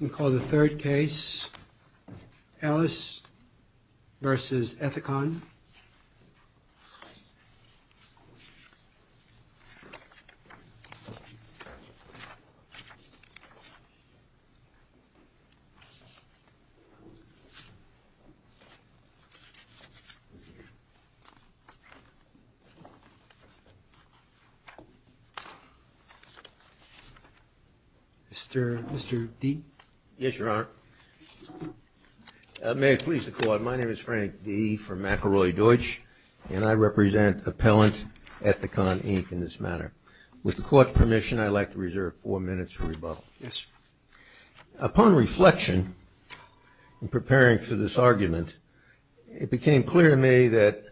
I'm going to call the third case, Ellis Vs. Ethicon. Mr. Dee? Yes, Your Honor. May it please the Court, my name is Frank Dee from McElroy Deutsch and I represent Appellant Ethicon Inc. in this matter. With the Court's permission, I'd like to reserve four minutes for rebuttal. Yes, sir. Upon reflection in preparing for this argument, it became clear to me that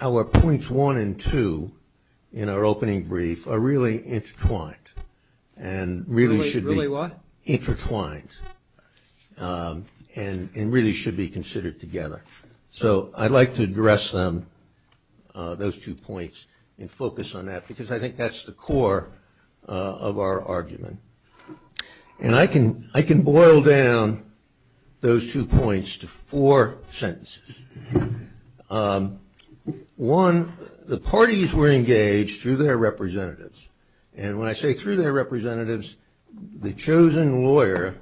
our points one and two in our opening brief are really intertwined and really should be Really what? considered together. So I'd like to address those two points and focus on that because I think that's the core of our argument. And I can boil down those two points to four sentences. One, the parties were engaged through their representatives. And when I say through their representatives, the chosen lawyer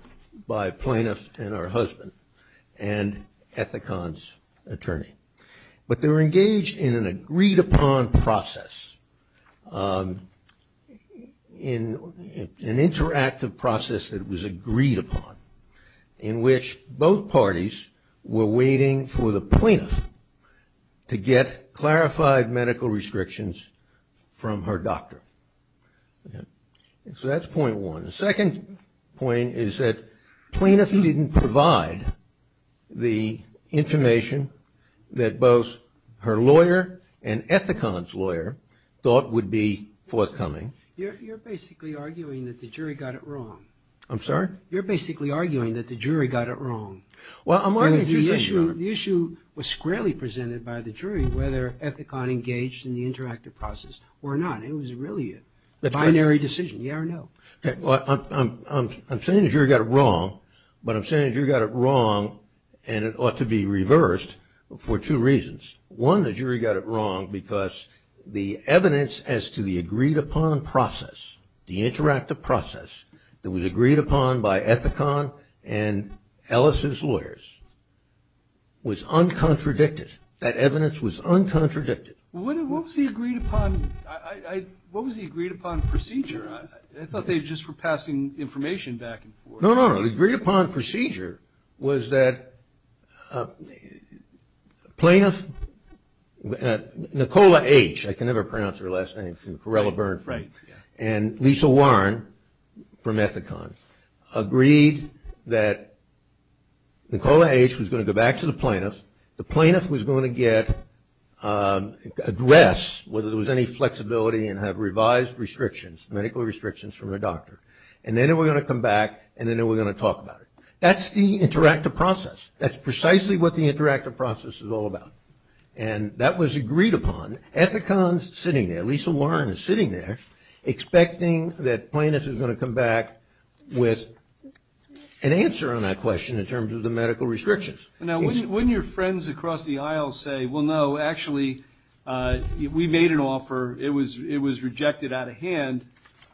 by plaintiff and her husband and Ethicon's attorney. But they were engaged in an agreed upon process, an interactive process that was agreed upon, in which both parties were waiting for the plaintiff to get clarified medical restrictions from her doctor. So that's point one. The second point is that plaintiff didn't provide the information that both her lawyer and Ethicon's lawyer thought would be forthcoming. You're basically arguing that the jury got it wrong. I'm sorry? You're basically arguing that the jury got it wrong. Well, I'm arguing two things, Your Honor. The issue was squarely presented by the jury whether Ethicon engaged in the interactive process or not. It was really a binary decision, yeah or no. I'm saying the jury got it wrong, but I'm saying the jury got it wrong and it ought to be reversed for two reasons. One, the jury got it wrong because the evidence as to the agreed upon process, the interactive process, that was agreed upon by Ethicon and Ellis' lawyers was uncontradicted. That evidence was uncontradicted. What was the agreed upon procedure? I thought they just were passing information back and forth. No, no, no. The agreed upon procedure was that plaintiff, Nicola H. I can never pronounce her last name. And Lisa Warren from Ethicon agreed that Nicola H. was going to go back to the plaintiff. The plaintiff was going to get, address whether there was any flexibility and have revised restrictions, medical restrictions from the doctor. And then they were going to come back and then they were going to talk about it. That's the interactive process. That's precisely what the interactive process is all about. And that was agreed upon. And Ethicon's sitting there, Lisa Warren is sitting there, expecting that plaintiff is going to come back with an answer on that question in terms of the medical restrictions. Now, wouldn't your friends across the aisle say, well, no, actually, we made an offer. It was rejected out of hand.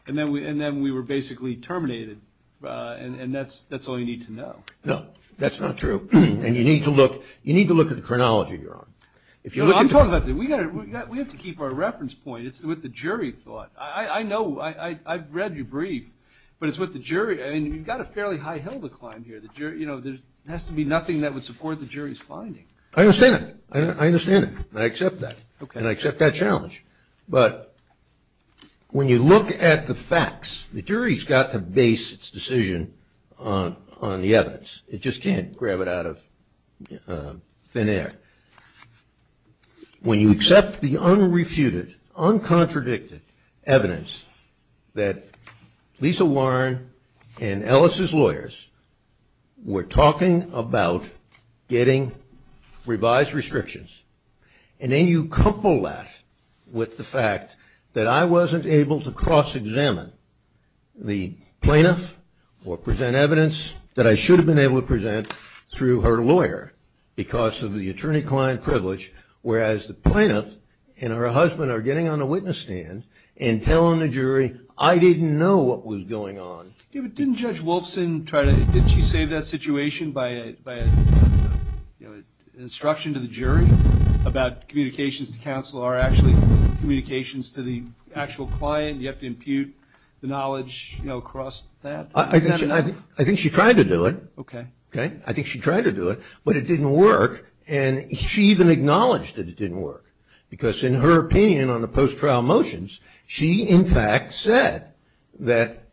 And then we were basically terminated. And that's all you need to know. No, that's not true. And you need to look at the chronology you're on. I'm talking about that. We have to keep our reference point. It's with the jury thought. I know. I've read your brief. But it's with the jury. I mean, you've got a fairly high hill to climb here. You know, there has to be nothing that would support the jury's finding. I understand that. I understand that. I accept that. And I accept that challenge. But when you look at the facts, the jury's got to base its decision on the evidence. It just can't grab it out of thin air. When you accept the unrefuted, uncontradicted evidence that Lisa Warren and Ellis's lawyers were talking about getting revised restrictions, and then you couple that with the fact that I wasn't able to cross-examine the plaintiff or present evidence that I should have been able to present through her lawyer because of the attorney-client privilege, whereas the plaintiff and her husband are getting on a witness stand and telling the jury, I didn't know what was going on. Yeah, but didn't Judge Wolfson try to – didn't she save that situation by, you know, instruction to the jury about communications to counsel are actually communications to the actual client? You have to impute the knowledge, you know, across that. I think she tried to do it. Okay. Okay? I think she tried to do it, but it didn't work. And she even acknowledged that it didn't work because in her opinion on the post-trial motions, she in fact said that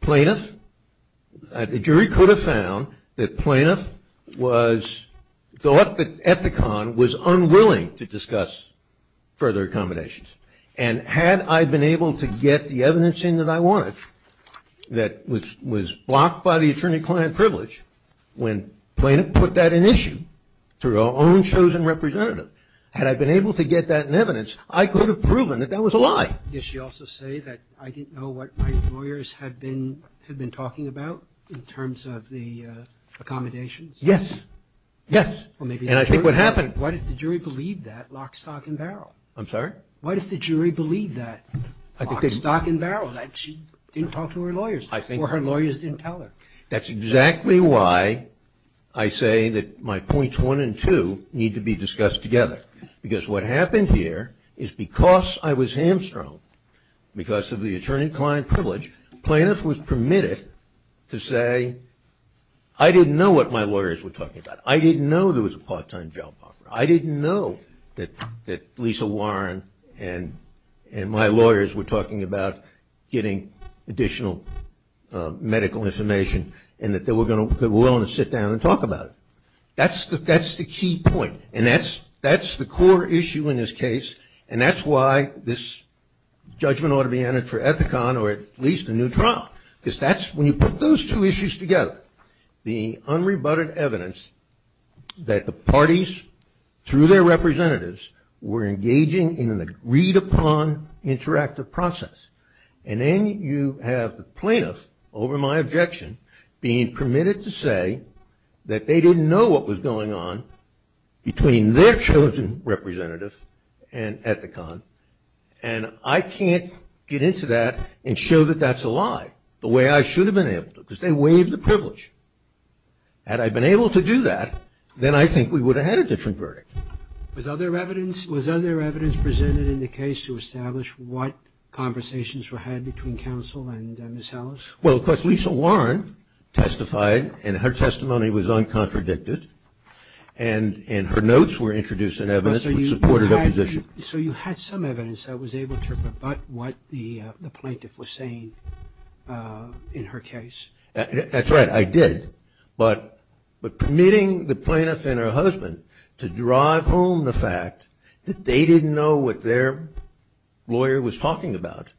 plaintiff – the jury could have found that plaintiff was – thought that Ethicon was unwilling to discuss further accommodations. And had I been able to get the evidencing that I wanted that was blocked by the attorney-client privilege when plaintiff put that in issue through her own chosen representative, had I been able to get that in evidence, I could have proven that that was a lie. Did she also say that I didn't know what my lawyers had been talking about in terms of the accommodations? Yes. Yes. And I think what happened – Why did the jury believe that lock, stock and barrel? I'm sorry? Why did the jury believe that lock, stock and barrel, that she didn't talk to her lawyers? I think – Or her lawyers didn't tell her? That's exactly why I say that my points one and two need to be discussed together. Because what happened here is because I was hamstrung, because of the attorney-client privilege, plaintiff was permitted to say I didn't know what my lawyers were talking about. I didn't know there was a part-time job offer. I didn't know that Lisa Warren and my lawyers were talking about getting additional medical information and that they were willing to sit down and talk about it. That's the key point, and that's the core issue in this case, and that's why this judgment ought to be entered for Ethicon or at least a new trial. Because that's – when you put those two issues together, the unrebutted evidence that the parties, through their representatives, were engaging in a read-upon interactive process, and then you have the plaintiff, over my objection, being permitted to say that they didn't know what was going on between their chosen representative and Ethicon, and I can't get into that and show that that's a lie the way I should have been able to, because they waived the privilege. Had I been able to do that, then I think we would have had a different verdict. Was other evidence – was other evidence presented in the case to establish what conversations were had between counsel and Ms. Ellis? Well, of course, Lisa Warren testified, and her testimony was uncontradicted, and her notes were introduced in evidence that supported her position. So you had some evidence that was able to rebut what the plaintiff was saying in her case? That's right. I did, but permitting the plaintiff and her husband to drive home the fact that they didn't know what their lawyer was talking about,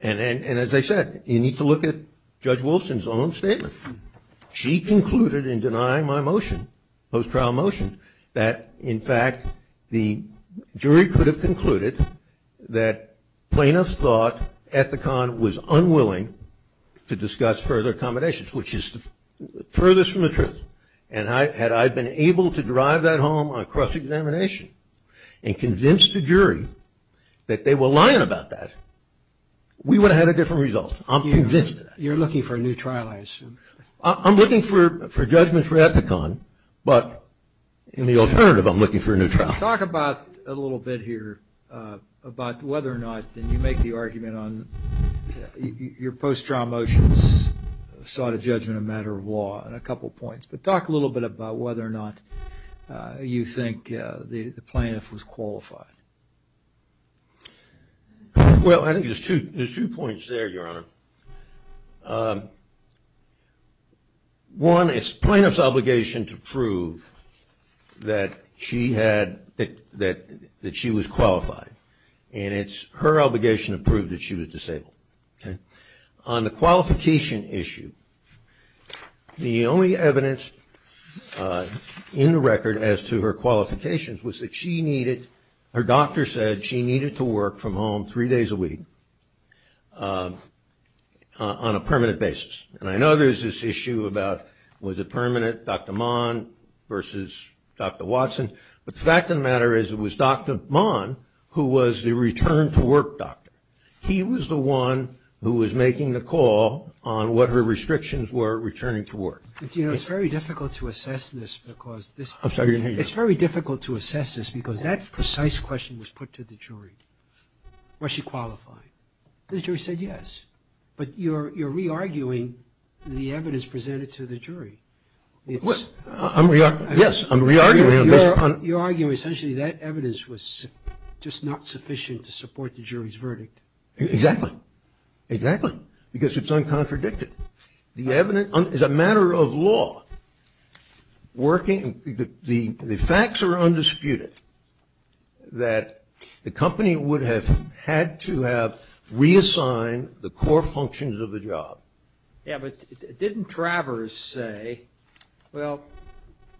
and as I said, you need to look at Judge Wilson's own statement. She concluded in denying my motion, post-trial motion, that in fact the jury could have concluded that plaintiffs thought Ethicon was unwilling to discuss further accommodations, which is the furthest from the truth, and had I been able to drive that home on cross-examination and convince the jury that they were lying about that, we would have had a different result. I'm convinced of that. You're looking for a new trial, I assume. I'm looking for a judgment for Ethicon, but in the alternative, I'm looking for a new trial. Talk about, a little bit here, about whether or not you make the argument on your post-trial motions, sought a judgment on a matter of law, and a couple of points, but talk a little bit about whether or not you think the plaintiff was qualified. Well, I think there's two points there, Your Honor. One, it's plaintiff's obligation to prove that she was qualified, and it's her obligation to prove that she was disabled. On the qualification issue, the only evidence in the record as to her qualifications was that she needed, her doctor said she needed to work from home three days a week on a permanent basis. And I know there's this issue about was it permanent, Dr. Mon versus Dr. Watson, but the fact of the matter is it was Dr. Mon who was the return-to-work doctor. He was the one who was making the call on what her restrictions were returning to work. It's very difficult to assess this because that precise question was put to the jury. Was she qualified? The jury said yes. But you're re-arguing the evidence presented to the jury. Yes, I'm re-arguing. You're arguing essentially that evidence was just not sufficient to support the jury's verdict. Exactly. Exactly. Because it's uncontradicted. The evidence is a matter of law. The facts are undisputed that the company would have had to have reassigned the core functions of the job. Yeah, but didn't Travers say, well,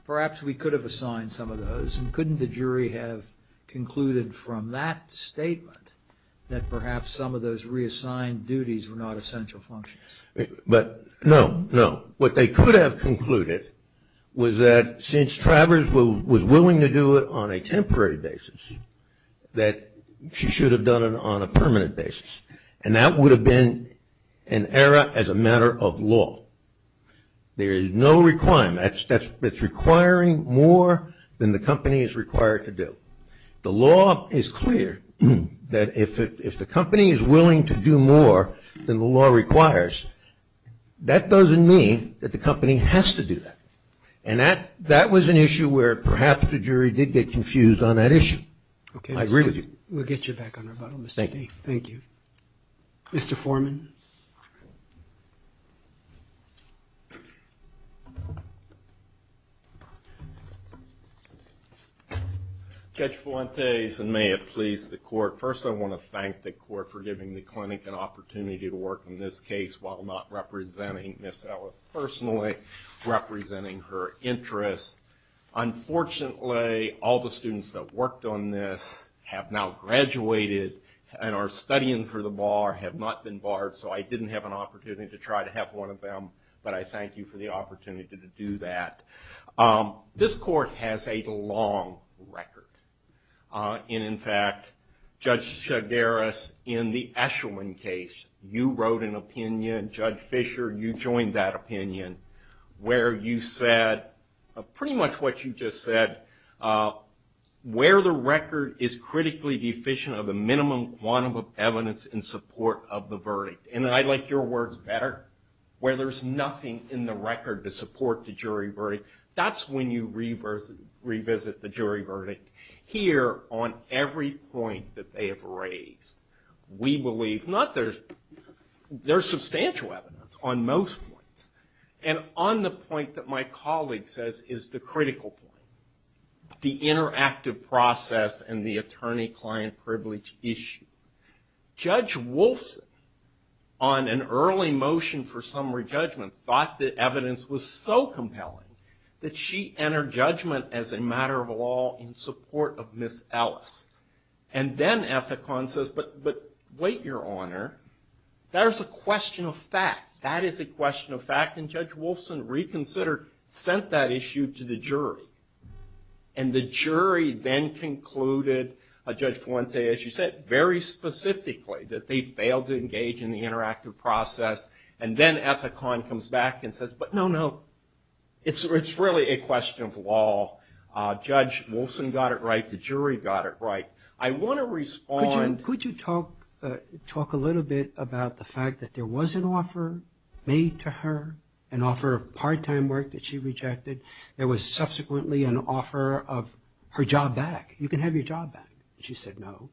perhaps we could have assigned some of those, and couldn't the jury have concluded from that statement that perhaps some of those reassigned duties were not essential functions? No, no. What they could have concluded was that since Travers was willing to do it on a temporary basis, that she should have done it on a permanent basis. And that would have been an error as a matter of law. There is no requirement. It's requiring more than the company is required to do. The law is clear that if the company is willing to do more than the law requires, that doesn't mean that the company has to do that. And that was an issue where perhaps the jury did get confused on that issue. Okay. I agree with you. We'll get you back on rebuttal, Mr. King. Thank you. Thank you. Mr. Foreman. Judge Fuentes, and may it please the court. First, I want to thank the court for giving the clinic an opportunity to work on this case while not representing Ms. Ellis personally, representing her interests. Unfortunately, all the students that worked on this have now graduated and are studying for the bar, have not been barred, so I didn't have an opportunity to try to have one of them. But I thank you for the opportunity to do that. This court has a long record. And, in fact, Judge Chagares, in the Eshelman case, you wrote an opinion. Judge Fisher, you joined that opinion where you said pretty much what you just said. Where the record is critically deficient of the minimum quantum of evidence in support of the verdict. And I like your words better. Where there's nothing in the record to support the jury verdict. That's when you revisit the jury verdict. Here, on every point that they have raised, we believe, not there's substantial evidence on most points. And on the point that my colleague says is the critical point. The interactive process and the attorney-client privilege issue. Judge Wolfson, on an early motion for summary judgment, thought the evidence was so compelling that she entered judgment as a matter of law in support of Ms. Ellis. And then Ethicon says, but wait, Your Honor. There's a question of fact. That is a question of fact. And Judge Wolfson reconsidered, sent that issue to the jury. And the jury then concluded, Judge Fuente, as you said, very specifically that they failed to engage in the interactive process. And then Ethicon comes back and says, but no, no. It's really a question of law. Judge Wolfson got it right. The jury got it right. I want to respond. Could you talk a little bit about the fact that there was an offer made to her, an offer of part-time work that she rejected. There was subsequently an offer of her job back. You can have your job back. She said no.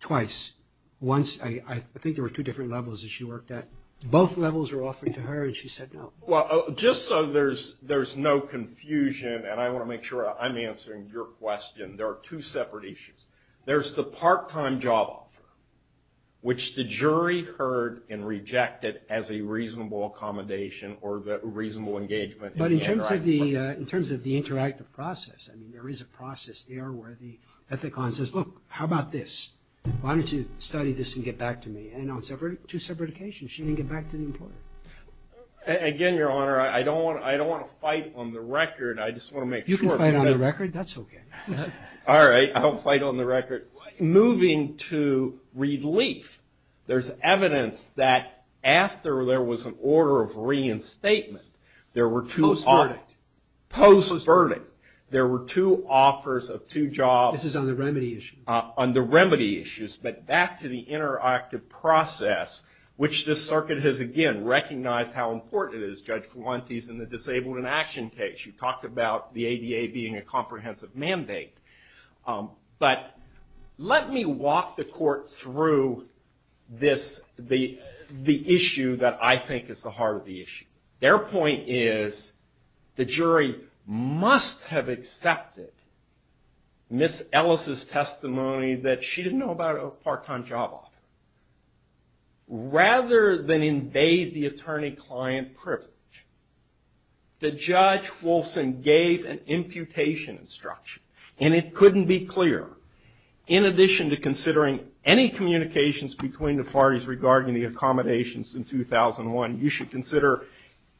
Twice. Once, I think there were two different levels that she worked at. Both levels were offered to her, and she said no. Well, just so there's no confusion, and I want to make sure I'm answering your question, there are two separate issues. There's the part-time job offer, which the jury heard and rejected as a reasonable accommodation or reasonable engagement in the interactive process. But in terms of the interactive process, there is a process there where Ethicon says, look, how about this? Why don't you study this and get back to me? And on two separate occasions, she didn't get back to the employer. Again, Your Honor, I don't want to fight on the record. I just want to make sure. You can fight on the record. That's okay. All right. I'll fight on the record. Moving to relief, there's evidence that after there was an order of reinstatement, there were two offers. Post-verdict. Post-verdict. There were two offers of two jobs. This is on the remedy issue. On the remedy issues. But back to the interactive process, which this circuit has, again, recognized how important it is, Judge Fuentes, in the disabled in action case. You talked about the ADA being a comprehensive mandate. But let me walk the court through this, the issue that I think is the heart of the issue. Their point is the jury must have accepted Ms. Ellis' testimony that she didn't know about a part-time job offer. Rather than invade the attorney-client privilege, the judge, Wolfson, gave an imputation instruction, and it couldn't be clearer. In addition to considering any communications between the parties regarding the accommodations in 2001, you should consider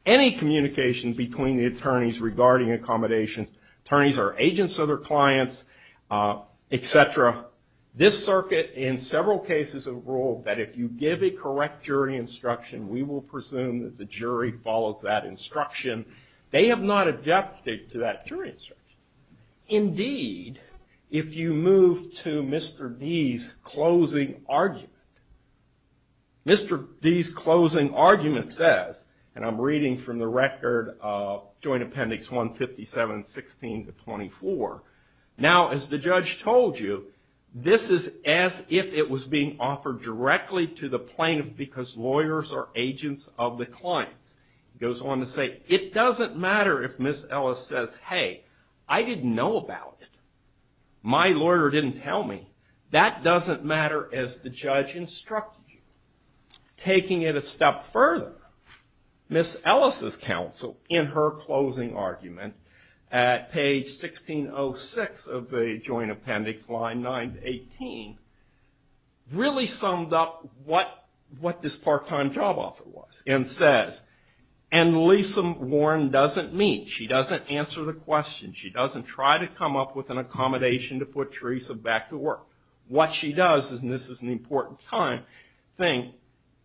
any communication between the attorneys regarding accommodations. Attorneys are agents of their clients, et cetera. This circuit, in several cases, has ruled that if you give a correct jury instruction, we will presume that the jury follows that instruction. They have not adapted to that jury instruction. Indeed, if you move to Mr. D's closing argument, Mr. D's closing argument says, and I'm reading from the record of Joint Appendix 157, 16 to 24. Now, as the judge told you, this is as if it was being offered directly to the plaintiff because lawyers are agents of the clients. He goes on to say, it doesn't matter if Ms. Ellis says, hey, I didn't know about it. My lawyer didn't tell me. That doesn't matter as the judge instructed you. Taking it a step further, Ms. Ellis' counsel, in her closing argument, at page 1606 of the Joint Appendix, line 9 to 18, really summed up what this part-time job offer was and says, and Lisa Warren doesn't meet. She doesn't answer the question. She doesn't try to come up with an accommodation to put Teresa back to work. What she does, and this is an important thing,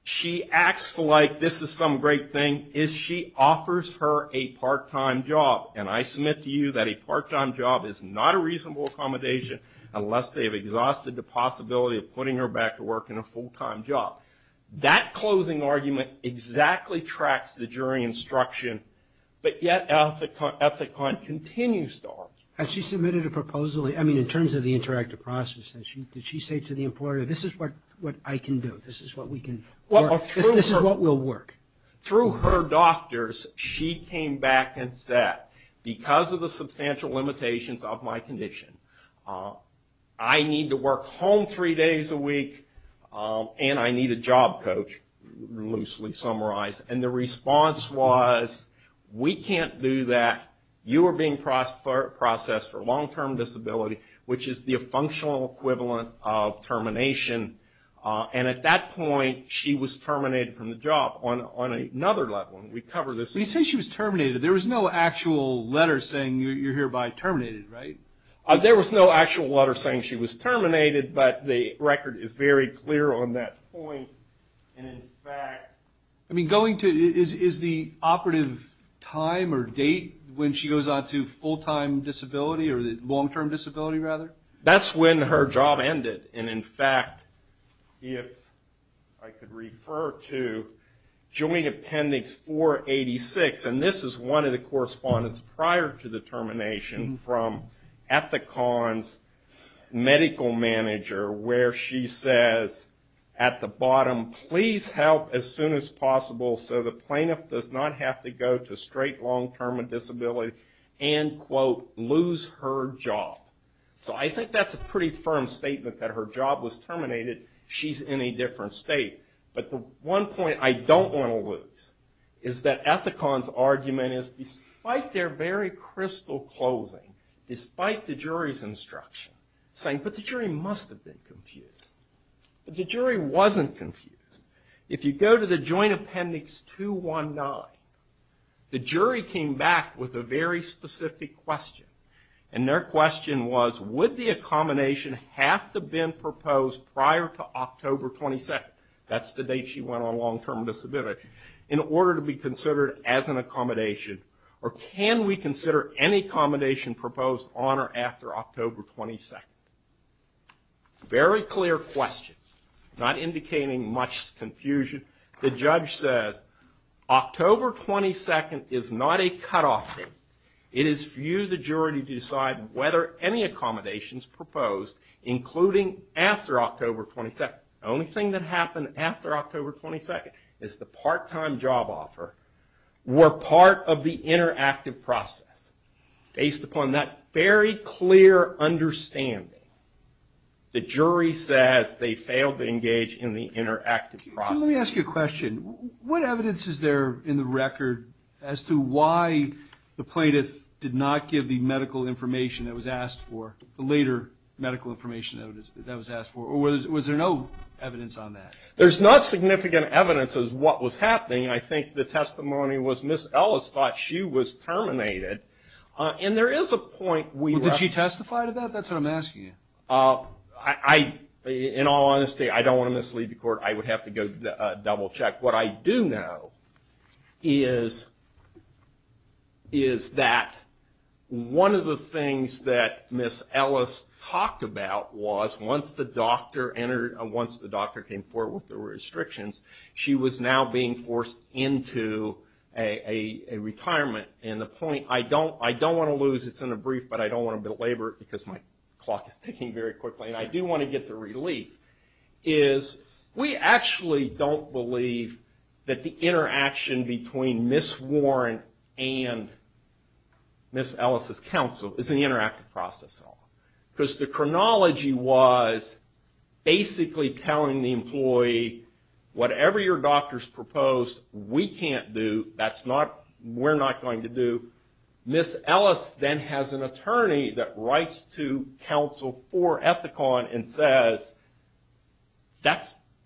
she acts like this is some great thing, is she offers her a part-time job. And I submit to you that a part-time job is not a reasonable accommodation unless they've exhausted the possibility of putting her back to work in a full-time job. That closing argument exactly tracks the jury instruction, but yet Ethicon continues to offer. Had she submitted a proposal? I mean, in terms of the interactive process, did she say to the employer, this is what I can do? This is what we can work? This is what will work? Through her doctors, she came back and said, because of the substantial limitations of my condition, I need to work home three days a week, and I need a job coach, loosely summarized. And the response was, we can't do that. You are being processed for long-term disability, which is the functional equivalent of termination. And at that point, she was terminated from the job. On another level, we cover this. When you say she was terminated, there was no actual letter saying you're hereby terminated, right? There was no actual letter saying she was terminated, but the record is very clear on that point. I mean, is the operative time or date when she goes on to full-time disability, or long-term disability, rather? That's when her job ended. And in fact, if I could refer to Joint Appendix 486, and this is one of the correspondence prior to the termination from Ethicon's medical manager, where she says at the bottom, please help as soon as possible so the plaintiff does not have to go to straight long-term disability and, quote, lose her job. So I think that's a pretty firm statement that her job was terminated. She's in a different state. But the one point I don't want to lose is that Ethicon's argument is, despite their very crystal closing, despite the jury's instruction, saying, but the jury must have been confused. But the jury wasn't confused. If you go to the Joint Appendix 219, the jury came back with a very specific question. And their question was, would the accommodation have to have been proposed prior to October 22nd, that's the date she went on long-term disability, in order to be considered as an accommodation? Or can we consider any accommodation proposed on or after October 22nd? Very clear question, not indicating much confusion. The judge says, October 22nd is not a cutoff date. It is for you, the jury, to decide whether any accommodations proposed, including after October 22nd. The only thing that happened after October 22nd is the part-time job offer were part of the interactive process. Based upon that very clear understanding, the jury says they failed to engage in the interactive process. Let me ask you a question. What evidence is there in the record as to why the plaintiff did not give the medical information that was asked for, the later medical information that was asked for? Or was there no evidence on that? There's not significant evidence as to what was happening. I think the testimony was Ms. Ellis thought she was terminated. And there is a point we left. Did she testify to that? That's what I'm asking you. In all honesty, I don't want to mislead the court. I would have to go double-check. What I do know is that one of the things that Ms. Ellis talked about was once the doctor came forward with the restrictions, she was now being forced into a retirement. And the point I don't want to lose, it's in a brief, but I don't want to belabor it because my clock is ticking very quickly. And I do want to get the relief, is we actually don't believe that the interaction between Ms. Warren and Ms. Ellis' counsel is an interactive process at all. Because the chronology was basically telling the employee, whatever your doctor's proposed, we can't do. That's not, we're not going to do. Ms. Ellis then has an attorney that writes to counsel for Ethicon and says,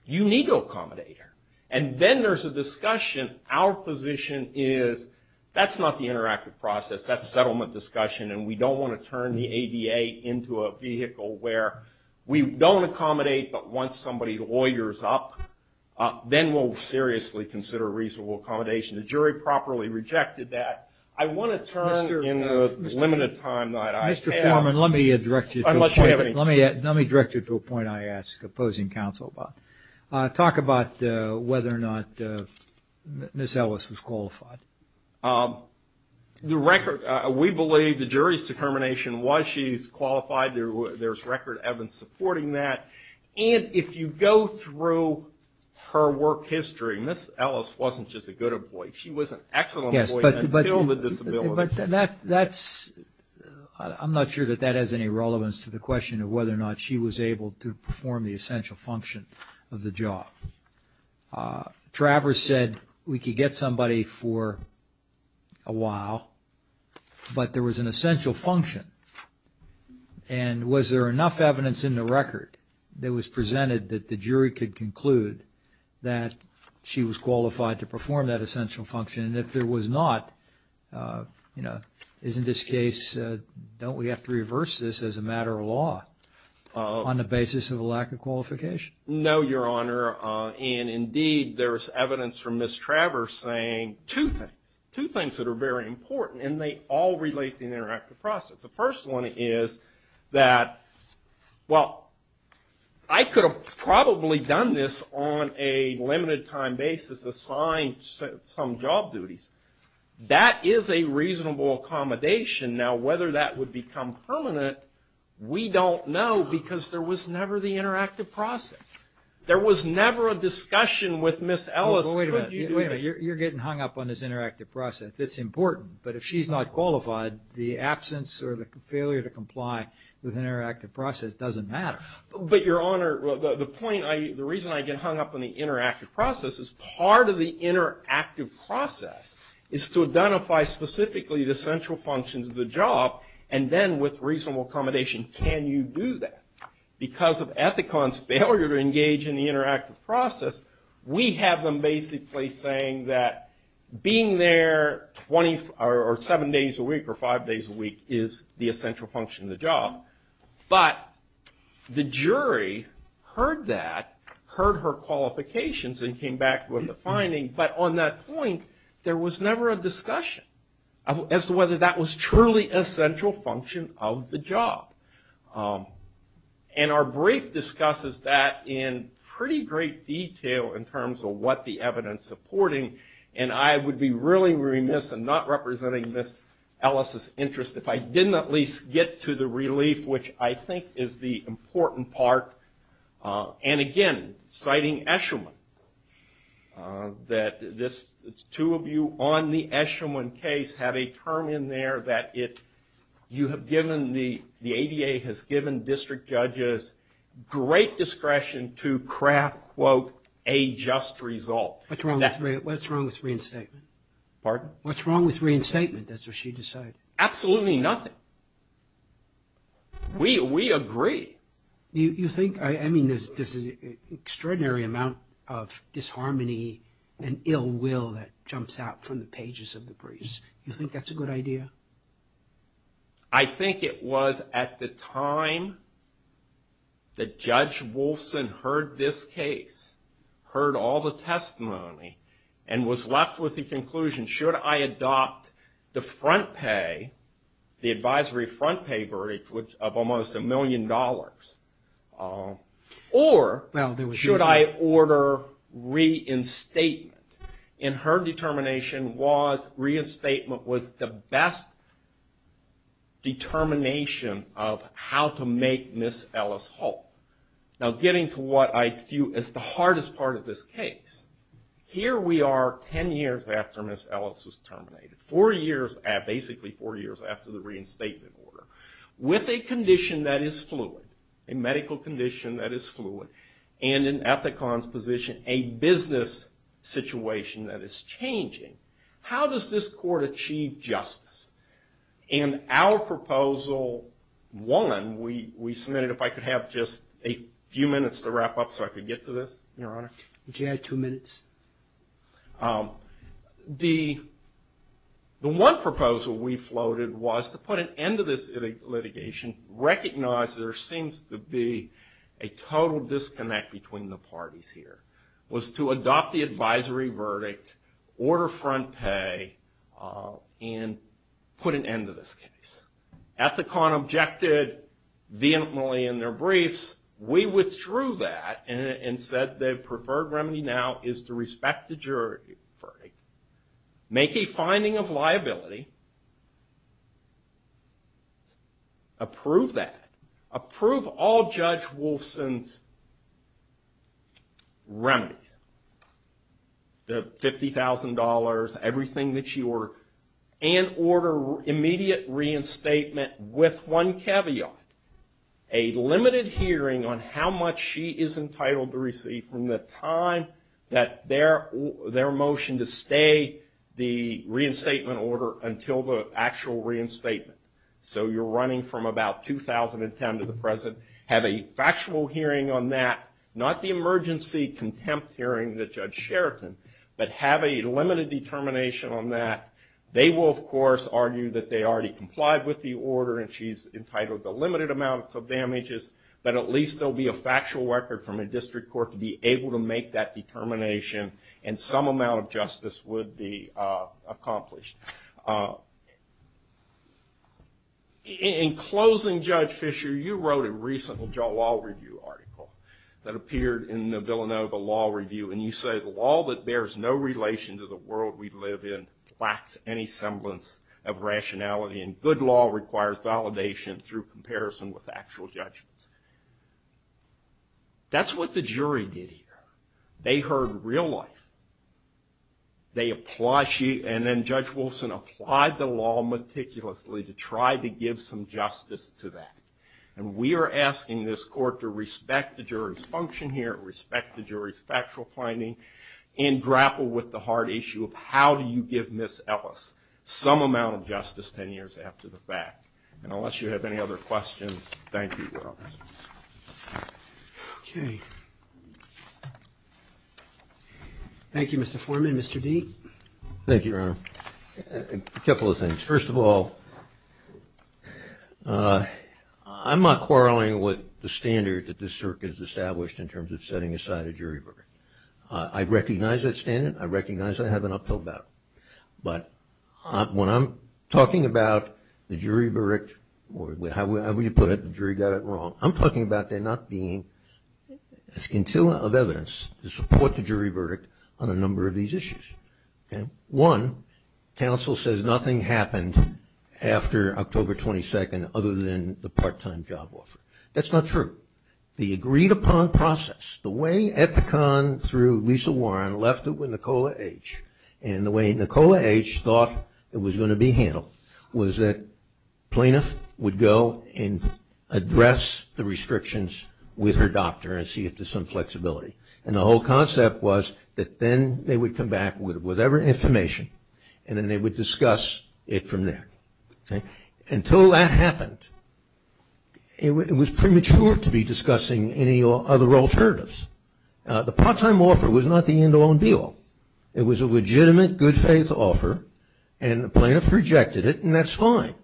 you need to accommodate her. And then there's a discussion. Our position is that's not the interactive process. That's settlement discussion, and we don't want to turn the ADA into a vehicle where we don't accommodate, but once somebody lawyers up, then we'll seriously consider reasonable accommodation. The jury properly rejected that. I want to turn in the limited time that I have. Mr. Foreman, let me direct you to a point I ask opposing counsel about. Talk about whether or not Ms. Ellis was qualified. The record, we believe the jury's determination was she's qualified. There's record evidence supporting that. And if you go through her work history, Ms. Ellis wasn't just a good employee. She was an excellent employee until the disability. I'm not sure that that has any relevance to the question of whether or not she was able to perform the essential function of the job. Travers said we could get somebody for a while, but there was an essential function. And was there enough evidence in the record that was presented that the jury could conclude that she was qualified to perform that essential function? And if there was not, you know, is in this case, don't we have to reverse this as a matter of law on the basis of a lack of qualification? No, Your Honor. And, indeed, there's evidence from Ms. Travers saying two things, two things that are very important, and they all relate to the interactive process. The first one is that, well, I could have probably done this on a limited time basis, assigned some job duties. That is a reasonable accommodation. Now, whether that would become permanent, we don't know because there was never the interactive process. There was never a discussion with Ms. Ellis, could you do this? Wait a minute. You're getting hung up on this interactive process. It's important. But if she's not qualified, the absence or the failure to comply with an interactive process doesn't matter. But, Your Honor, the point, the reason I get hung up on the interactive process is part of the interactive process is to identify specifically the central functions of the job, and then with reasonable accommodation, can you do that? Because of Ethicon's failure to engage in the interactive process, we have them basically saying that being there seven days a week or five days a week is the essential function of the job. But the jury heard that, heard her qualifications, and came back with a finding. But on that point, there was never a discussion as to whether that was truly a central function of the job. And our brief discusses that in pretty great detail in terms of what the evidence supporting, and I would be really remiss in not representing Ms. Ellis' interest if I didn't at least get to the relief, which I think is the important part. And, again, citing Eshelman, that this two of you on the Eshelman case have a term in there that you have given, the ADA has given district judges great discretion to craft, quote, a just result. What's wrong with reinstatement? Pardon? What's wrong with reinstatement, that's what she decided. Absolutely nothing. We agree. You think, I mean, there's an extraordinary amount of disharmony and ill will that jumps out from the pages of the briefs. You think that's a good idea? I think it was at the time that Judge Wolfson heard this case, heard all the testimony, and was left with the conclusion, should I adopt the front pay, the advisory front pay verdict of almost a million dollars, or should I order reinstatement? And her determination was reinstatement was the best determination of how to make Ms. Ellis whole. Now, getting to what I view as the hardest part of this case, here we are 10 years after Ms. Ellis was terminated, basically four years after the reinstatement order, with a condition that is fluid, a medical condition that is fluid, and in Ethicon's position, a business situation that is changing. How does this court achieve justice? And our proposal won. We submitted, if I could have just a few minutes to wrap up so I could get to this, Your Honor. Would you add two minutes? The one proposal we floated was to put an end to this litigation, recognize there seems to be a total disconnect between the parties here, was to adopt the advisory verdict, order front pay, and put an end to this case. Ethicon objected vehemently in their briefs. We withdrew that and said the preferred remedy now is to respect the jury verdict, make a finding of liability, approve that, approve all Judge Wolfson's remedies, the $50,000, everything that she ordered, and order immediate reinstatement with one caveat, a limited hearing on how much she is entitled to receive from the time that their motion to stay the reinstatement order until the actual reinstatement. So you're running from about 2010 to the present. Have a factual hearing on that, not the emergency contempt hearing that Judge Sheraton, but have a limited determination on that. They will, of course, argue that they already complied with the order and she's entitled to limited amounts of damages, but at least there will be a factual record from a district court to be able to make that determination and some amount of justice would be accomplished. In closing, Judge Fisher, you wrote a recent law review article that appeared in the Villanova Law Review, and you say the law that bears no relation to the world we live in lacks any semblance of rationality, and good law requires validation through comparison with actual judgments. That's what the jury did here. They heard real life. They applied, and then Judge Wilson applied the law meticulously to try to give some justice to that, and we are asking this court to respect the jury's function here, respect the jury's factual finding, and grapple with the hard issue of how do you give Ms. Ellis some amount of justice 10 years after the fact? And unless you have any other questions, thank you, Your Honor. Okay. Thank you, Mr. Foreman. Mr. Deet? Thank you, Your Honor. A couple of things. First of all, I'm not quarreling with the standard that this circuit has established in terms of setting aside a jury verdict. I recognize that standard. I recognize I have an uphill battle, but when I'm talking about the jury verdict, or however you put it, the jury got it wrong, I'm talking about there not being a scintilla of evidence to support the jury verdict on a number of these issues. One, counsel says nothing happened after October 22nd other than the part-time job offer. That's not true. The agreed upon process, the way Ethicon through Lisa Warren left it with the way Nicola H thought it was going to be handled was that plaintiff would go and address the restrictions with her doctor and see if there's some flexibility. And the whole concept was that then they would come back with whatever information and then they would discuss it from there. Until that happened, it was premature to be discussing any other alternatives. The part-time offer was not the end-all and be-all. It was a legitimate, good-faith offer, and the plaintiff rejected it, and that's fine.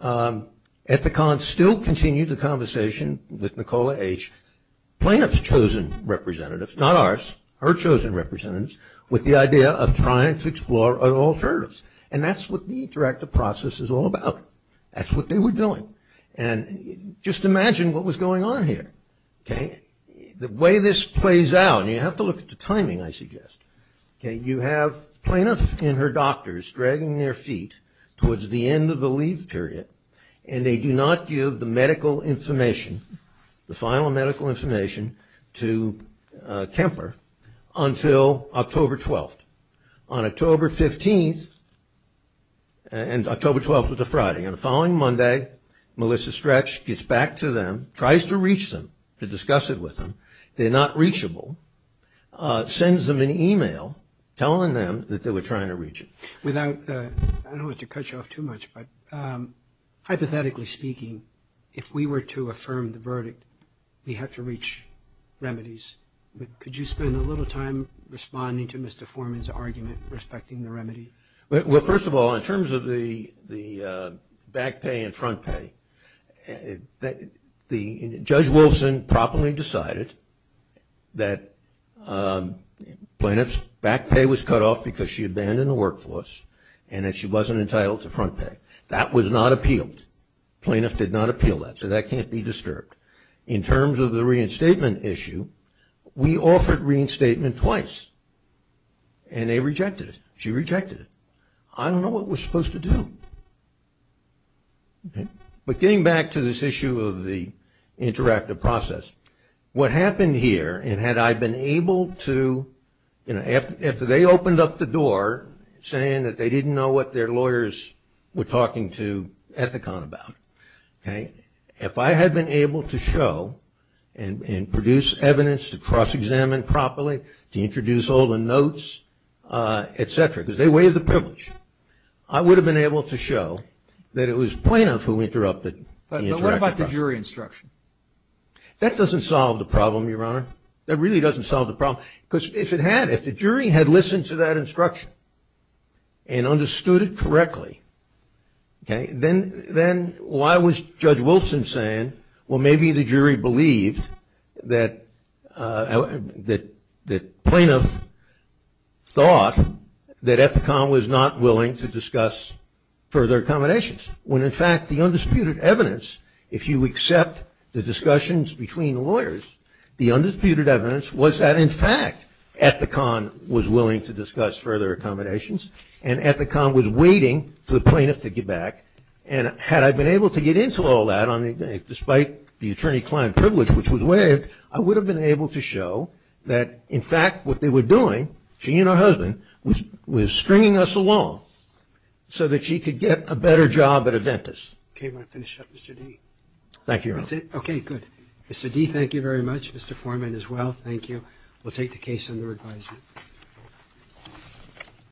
Ethicon still continued the conversation with Nicola H, plaintiff's chosen representatives, not ours, her chosen representatives, with the idea of trying to explore alternatives. And that's what the interactive process is all about. That's what they were doing. And just imagine what was going on here, okay? The way this plays out, and you have to look at the timing, I suggest, okay, you have plaintiff and her doctors dragging their feet towards the end of the leave period, and they do not give the medical information, the final medical information, to Kemper until October 12th. On October 15th, and October 12th was a Friday, on the following Monday, Melissa Stretch gets back to them, tries to reach them to discuss it with them. They're not reachable. Sends them an e-mail telling them that they were trying to reach it. I don't want to cut you off too much, but hypothetically speaking, if we were to affirm the verdict, we have to reach remedies. Could you spend a little time responding to Mr. Foreman's argument respecting the remedy? Well, first of all, in terms of the back pay and front pay, Judge Wilson properly decided that plaintiff's back pay was cut off because she abandoned the workforce and that she wasn't entitled to front pay. That was not appealed. Plaintiff did not appeal that, so that can't be disturbed. In terms of the reinstatement issue, we offered reinstatement twice, and they rejected it. She rejected it. I don't know what we're supposed to do. But getting back to this issue of the interactive process, what happened here, and had I been able to, you know, after they opened up the door, saying that they didn't know what their lawyers were talking to Ethicon about, okay, if I had been able to show and produce evidence to cross-examine properly, to introduce all the notes, et cetera, because they waived the privilege, I would have been able to show that it was plaintiff who interrupted the interactive process. But what about the jury instruction? That doesn't solve the problem, Your Honor. That really doesn't solve the problem because if it had, if the jury had listened to that instruction and understood it correctly, okay, then why was Judge Wilson saying, well, maybe the jury believed that plaintiff thought that Ethicon was not willing to discuss further accommodations, when, in fact, the undisputed evidence, if you accept the discussions between lawyers, the undisputed evidence was that, in fact, Ethicon was willing to discuss further accommodations, and Ethicon was waiting for the plaintiff to get back, and had I been able to get into all that, despite the attorney-client privilege, which was waived, I would have been able to show that, in fact, what they were doing, she and her husband, was stringing us along so that she could get a better job at Aventus. Okay, I'm going to finish up, Mr. D. Thank you, Your Honor. That's it? Okay, good. Mr. D., thank you very much. Mr. Foreman, as well, thank you. We'll take the case under advisement.